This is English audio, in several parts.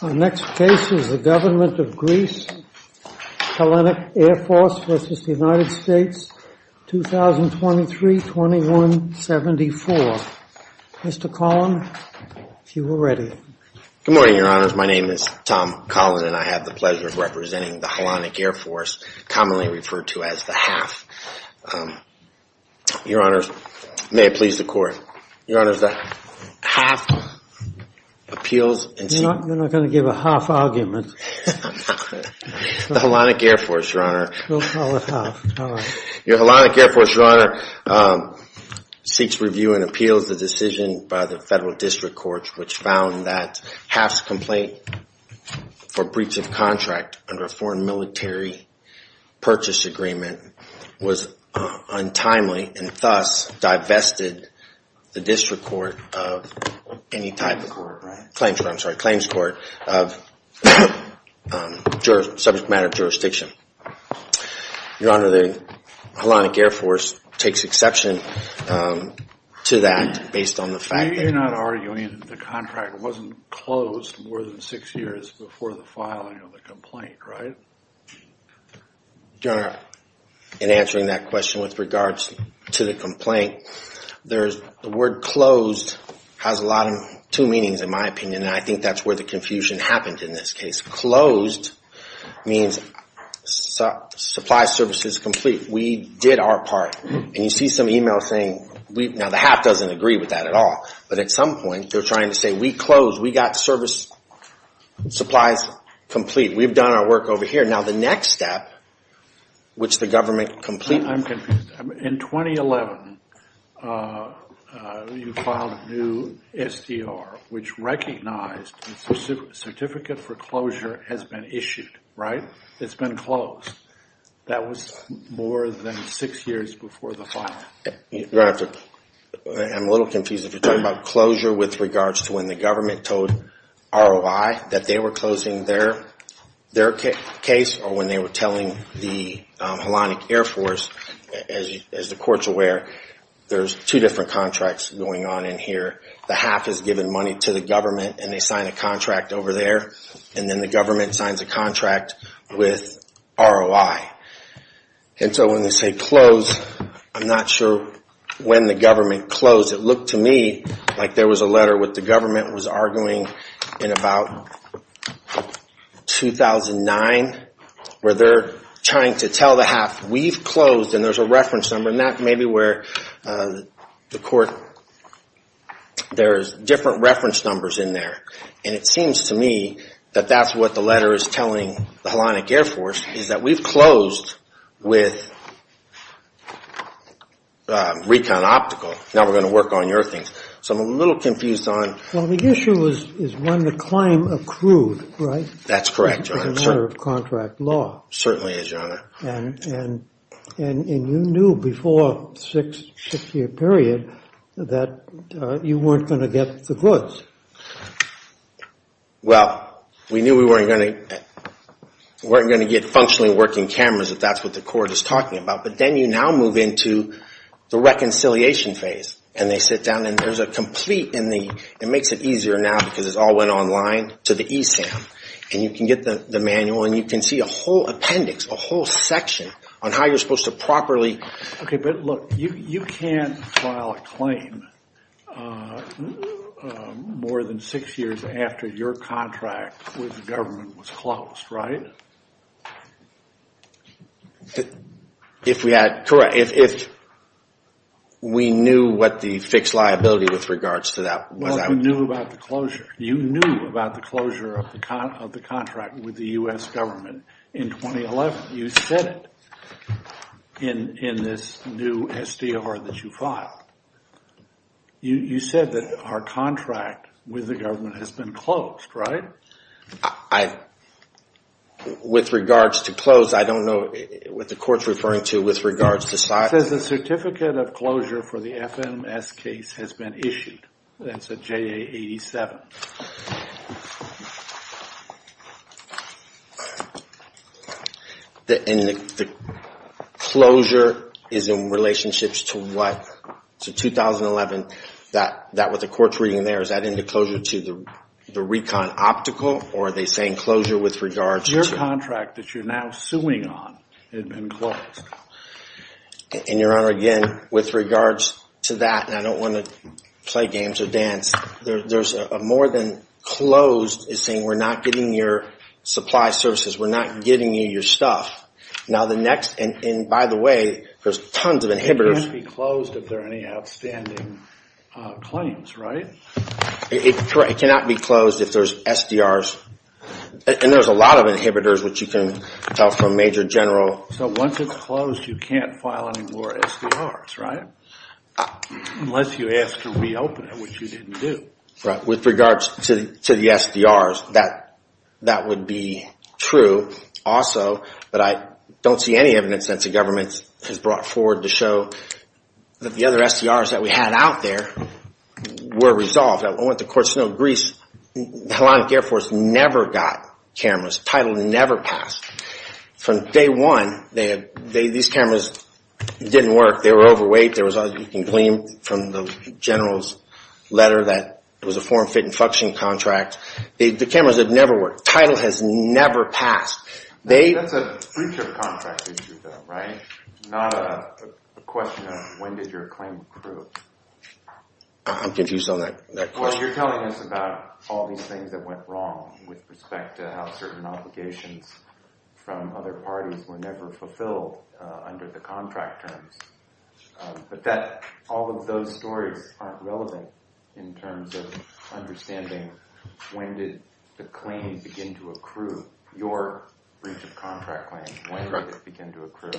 2023-2174. Mr. Collin, if you are ready. Good morning, your honors. My name is Tom Collin and I have the pleasure of representing the Hellenic Air Force, commonly referred to as HAAF. Your honors, may it please the court. Your honors, the HAAF appeals. We're not going to give a HAAF argument. The Hellenic Air Force, your honor. We'll call it HAAF. Your Hellenic Air Force, your honor, seeks review and appeals the decision by the federal district courts which found that HAAF's complaint for breach of contract under a foreign military purchase agreement was untimely and thus divested the district court of any type. Claims court, I'm sorry. Claims court of subject matter jurisdiction. Your honor, the Hellenic Air Force takes exception to that based on the fact that we're not arguing that the contract wasn't closed more than six years before the filing of the complaint, right? Your honor, in answering that question with regards to the complaint, the word closed has two meanings in my opinion and I think that's where the confusion happened in this case. Closed means supply services complete. We did our part and you see some e-mails saying, now the HAAF doesn't agree with that at all, but at some point they're trying to say we closed. We got service supplies complete. We've done our work over here. Now the next step, which the government completed. I'm confused. In 2011, you filed a new SDR which recognized certificate for closure has been issued, right? It's been closed. That was more than six years before the filing. Your honor, I'm a little confused if you're talking about closure with regards to when the government told ROI that they were closing their case or when they were telling the Hellenic Air Force, as the court's aware, there's two different contracts going on in here. The HAAF has given money to the government and they signed a contract over there and then the government signs a contract with ROI. And so when they say close, I'm not sure when the government closed. It looked to me like there was a letter that the government was arguing in about 2009 where they're trying to tell the HAAF we've closed and there's a reference number and that may be where the court, there's different reference numbers in there. And it seems to me that that's what the letter is telling the Hellenic Air Force is that we've closed with Now we're going to work on your thing. So I'm a little confused on... Well, the issue is when the claim accrued, right? That's correct, your honor. It's a matter of contract law. Certainly is, your honor. And you knew before the six-year period that you weren't going to get the goods. Well, we knew we weren't going to get functionally working cameras if that's what the court is talking about. But then you now move into the reconciliation phase and they sit down and there's a complete, it makes it easier now because it all went online to the ESAM. And you can get the manual and you can see a whole appendix, a whole section on how you're supposed to properly... More than six years after your contract with the government was closed, right? If we had... Correct. If we knew what the fixed liability with regards to that... You knew about the closure of the contract with the U.S. government in 2011. You said it in this new SDR that you filed. You said that our contract with the government has been closed, right? With regards to close, I don't know what the court's referring to with regards to... It says the Certificate of Closure for the FMS case has been issued. That's a JA 87. And the closure is in relationships to what? To 2011? That what the court's reading there, is that in the closure to the recon optical or are they saying closure with regards to... The contract that you're now suing on had been closed. And your honor, again, with regards to that, and I don't want to play games or dance, there's a more than closed is saying we're not getting your supply services, we're not getting you your stuff. Now the next, and by the way, there's tons of inhibitors... It can't be closed if there are any outstanding claims, right? It cannot be closed if there's SDRs, and there's a lot of inhibitors, which you can tell from Major General... So once it's closed, you can't file any more SDRs, right? Unless you ask to reopen it, which you didn't do. With regards to the SDRs, that would be true also, but I don't see any evidence that the government has brought forward to show that the other SDRs that we had out there were resolved. I want the courts to know Greece, the Hellenic Air Force never got cameras. Title never passed. From day one, these cameras didn't work. They were overweight. You can claim from the General's letter that it was a form, fit, and function contract. The cameras have never worked. Title has never passed. That's a breach of contract issue though, right? Not a question of when did your claim prove. I'm confused on that question. Well, you're telling us about all these things that went wrong with respect to how certain obligations from other parties were never fulfilled under the contract terms. But all of those stories aren't relevant in terms of understanding when did the claims begin to accrue? Your breach of contract claims, when did it begin to accrue?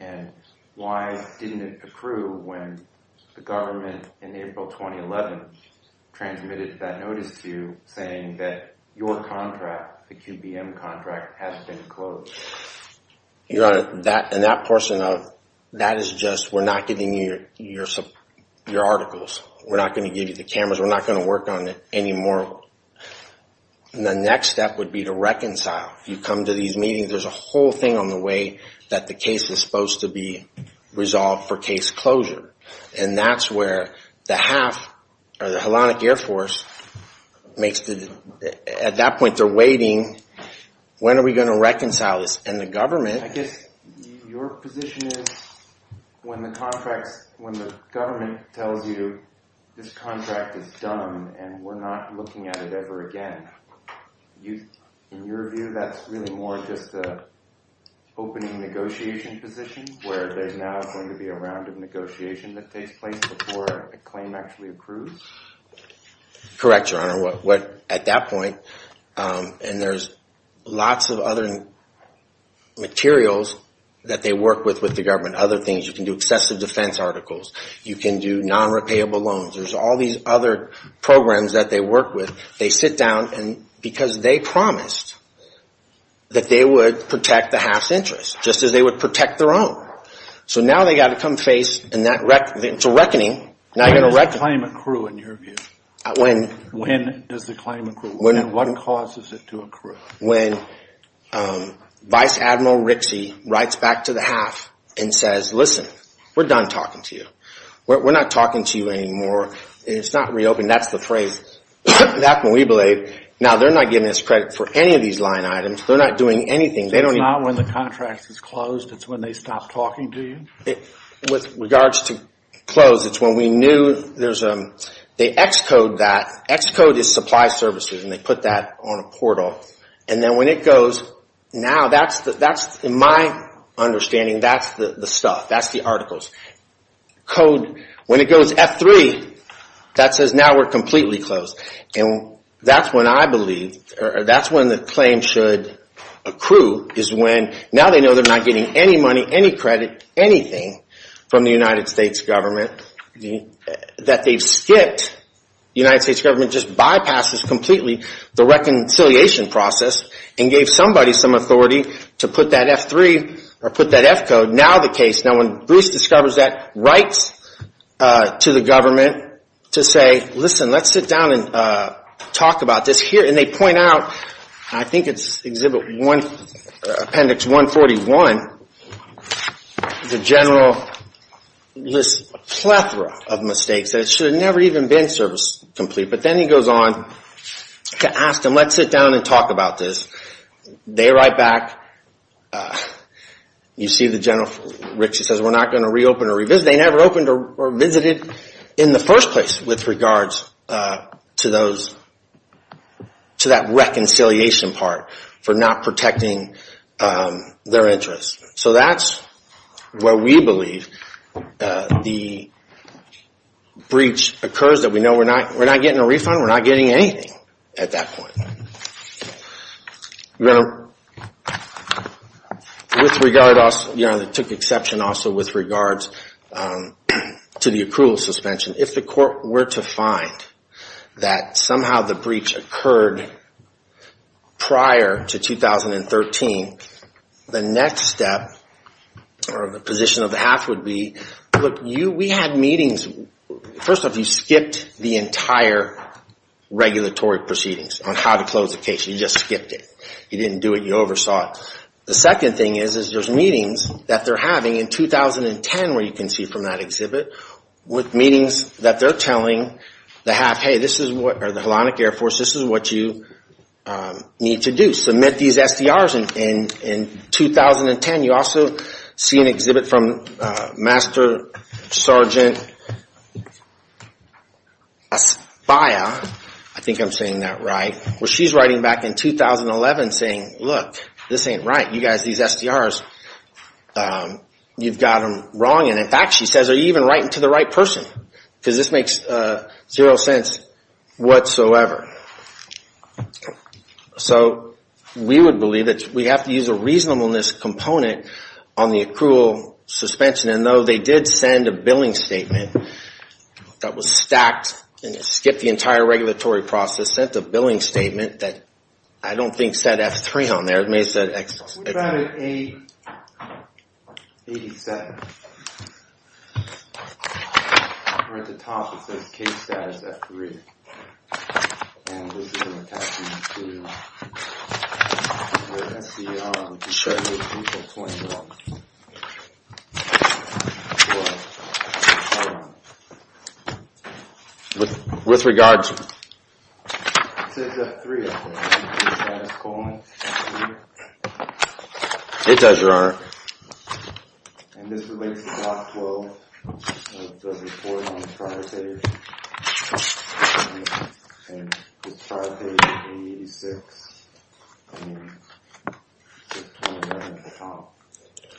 And why didn't it accrue when the government in April 2011 transmitted that notice to you saying that your contract, the QBM contract, has been closed? Your Honor, that and that portion of that is just we're not giving you your articles. We're not going to give you the cameras. We're not going to work on it anymore. So the next step would be to reconcile. You come to these meetings, there's a whole thing on the way that the case is supposed to be resolved for case closure. And that's where the HALF, or the Hellenic Air Force, at that point they're waiting, when are we going to reconcile this? I guess your position is when the government tells you this contract is done and we're not looking at it ever again. In your view that's really more just an opening negotiation position where there's now going to be a round of negotiation that takes place before a claim actually accrues? Correct, Your Honor. At that point, and there's lots of other materials that they work with the government, other things. You can do excessive defense articles. You can do non-repayable loans. There's all these other programs that they work with. They sit down and because they promised that they would protect the HALF's interests, just as they would protect their own. So now they've got to come face a reckoning. When does the claim accrue in your view? When does the claim accrue? And what causes it to accrue? When Vice Admiral Rixey writes back to the HALF and says, listen, we're done talking to you. We're not talking to you anymore. It's not reopened. That's the phrase. Now they're not giving us credit for any of these line items. They're not doing anything. It's not when the contract is closed, it's when they stop talking to you? With regards to close, it's when we knew there's a, they Xcode that. Xcode is supply services and they put that on a portal. And then when it goes, now that's, in my understanding, that's the stuff, that's the articles. Code, when it goes F3, that says now we're completely closed. And that's when I believe, or that's when the claim should accrue is when, now they know they're not getting any money, any credit, anything from the United States government. That they've skipped, the United States government just bypasses completely the reconciliation process and gave somebody some authority to put that F3 or put that Xcode. Now the case, now when Bruce discovers that, writes to the government to say, listen, let's sit down and talk about this here. And they point out, I think it's Exhibit 1, Appendix 141, the general list, a plethora of mistakes that should have never even been service complete. But then he goes on to ask them, let's sit down and talk about this. They write back, you see the general, Rich, he says we're not going to reopen or revisit. They never opened or revisited in the first place with regards to those, to that reconciliation part for not protecting their interests. So that's where we believe the breach occurs, that we know we're not getting a refund, we're not getting anything at that point. With regard also, took exception also with regards to the accrual suspension. If the court were to find that somehow the breach occurred prior to 2013, the next step or the position of the Hath would be, look, we had meetings. First off, you skipped the entire regulatory proceedings on how to close the case. You just skipped it. You didn't do it, you oversaw it. The second thing is, is there's meetings that they're having in 2010 where you can see from that exhibit, with meetings that they're telling the Hath, hey, this is what, or the Hellenic Air Force, this is what you need to do. Submit these SDRs in 2010. You also see an exhibit from Master Sergeant Aspaya, I think I'm saying that right, where she's writing back in 2011 saying, look, this ain't right. You guys, these SDRs, you've got them wrong. And in fact, she says, are you even writing to the right person? Because this makes zero sense whatsoever. So we would believe that we have to use a reasonableness component on the accrual suspension. And though they did send a billing statement that was stacked and skipped the entire regulatory process, sent a billing statement that I don't think said F3 on there. It may have said X. We found it 887. Where at the top it says case status F3. And this is an attachment to the SDR. With regards... It does, Your Honor.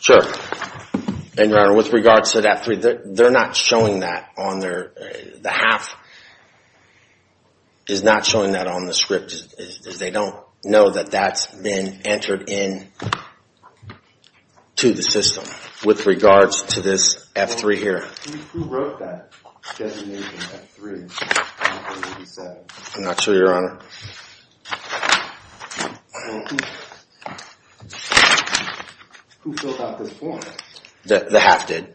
Sure. And Your Honor, with regards to F3, they're not showing that on their, the half is not showing that on the script. They don't know that that's been entered into the system with regards to this F3 here. I'm not sure, Your Honor. Who filled out this form? The half did.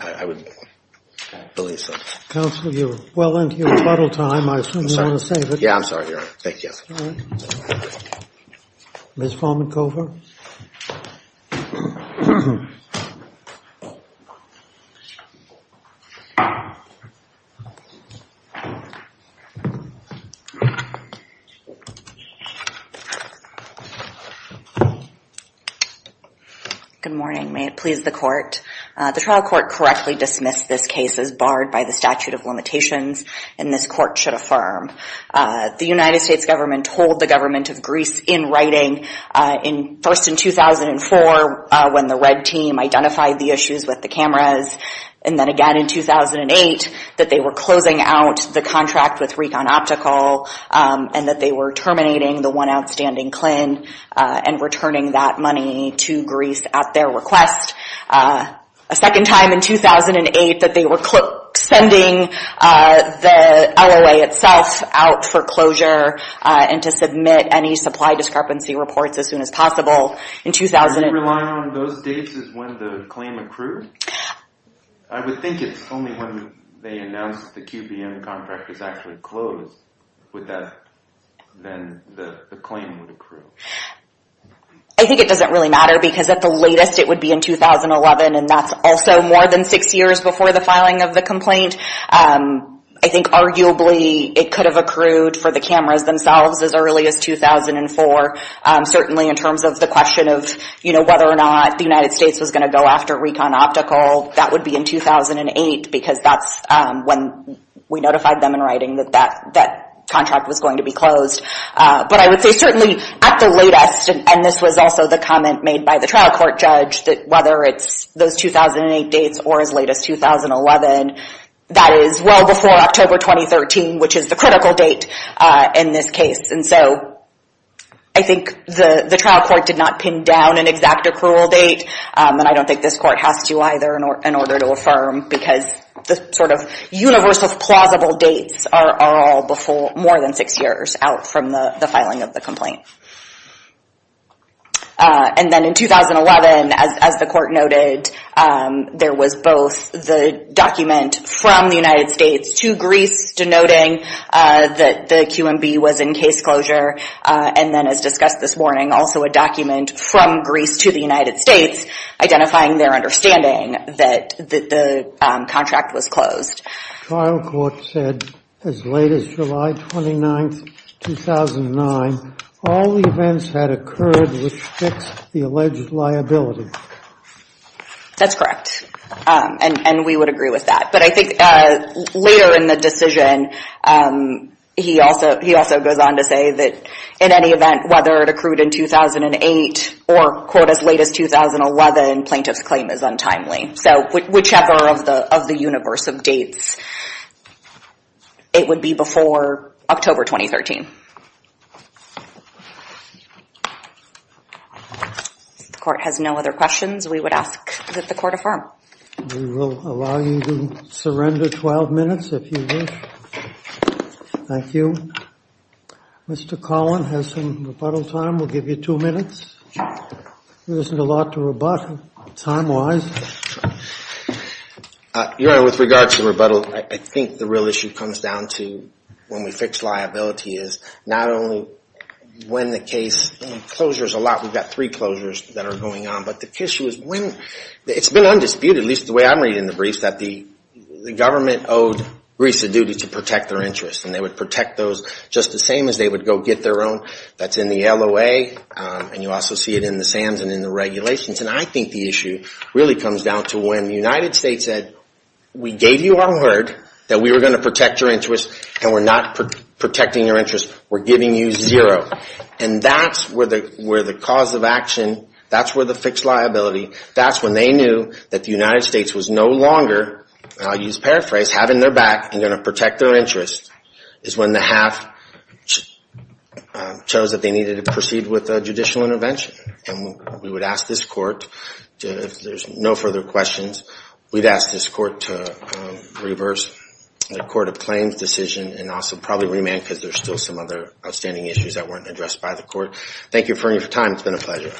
I would believe so. Counsel, you're well into your rebuttal time. I assume you want to save it. The United States government told the government of Greece in writing, first in 2004 when the red team identified the issues with the cameras, and then again in 2008 that they were closing out the contract with Recon Optical and that they were terminating the one outstanding CLIN and returning that money to Greece at their request. A second time in 2008 that they were sending the LOA itself out for closure and to submit any supply discrepancy reports as soon as possible. Are you relying on those dates as when the claim accrues? I would think it's only when they announce the QBM contract is actually closed then the claim would accrue. I think it doesn't really matter because at the latest it would be in 2011 and that's also more than six years before the filing of the complaint. I think arguably it could have accrued for the cameras themselves as early as 2004. Certainly in terms of the question of whether or not the United States was going to go after Recon Optical, that would be in 2008 because that's when we notified them in writing that that contract was going to be closed. But I would say certainly at the latest, and this was also the comment made by the trial court judge, that whether it's those 2008 dates or as late as 2011, that is well before October 2013, which is the critical date in this case. I think the trial court did not pin down an exact accrual date, and I don't think this court has to either in order to affirm because the sort of universal plausible dates are all more than six years out from the filing of the complaint. And then in 2011, as the court noted, there was both the document from the United States to Greece, denoting that the QMB was in case closure, and then as discussed this morning, also a document from Greece to the United States identifying their understanding that the contract was closed. The trial court said as late as July 29, 2009, all the events that occurred would fix the alleged liability. That's correct, and we would agree with that. But I think later in the decision, he also goes on to say that in any event, whether it accrued in 2008 or as late as 2011, plaintiff's claim is untimely. So whichever of the universal dates, it would be before October 2013. If the court has no other questions, we would ask that the court affirm. We will allow you to surrender 12 minutes if you wish. Thank you. Mr. Collin has some rebuttal time. We'll give you two minutes. There isn't a lot to rebut, time-wise. Your Honor, with regard to rebuttal, I think the real issue comes down to when we fix liability is not only when the case, closure is a lot, we've got three closures that are going on, but the issue is when, it's been undisputed, at least the way I'm reading the briefs, that the government owed Greece a duty to protect their interests, and they would protect those just the same as they would go get their own. That's in the LOA, and you also see it in the SAMs and in the regulations. And I think the issue really comes down to when the United States said, we gave you our word that we were going to protect your interests, and we're not protecting your interests, we're giving you zero. And that's where the cause of action, that's where the fixed liability, that's when they knew that the United States was no longer, and I'll use paraphrase, having their back and going to protect their interests, is when the half chose that they needed to proceed with a judicial intervention. And we would ask this court, if there's no further questions, we'd ask this court to reverse the Court of Claims decision and also probably remand because there's still some other outstanding issues that weren't addressed by the court. Thank you for your time. It's been a pleasure.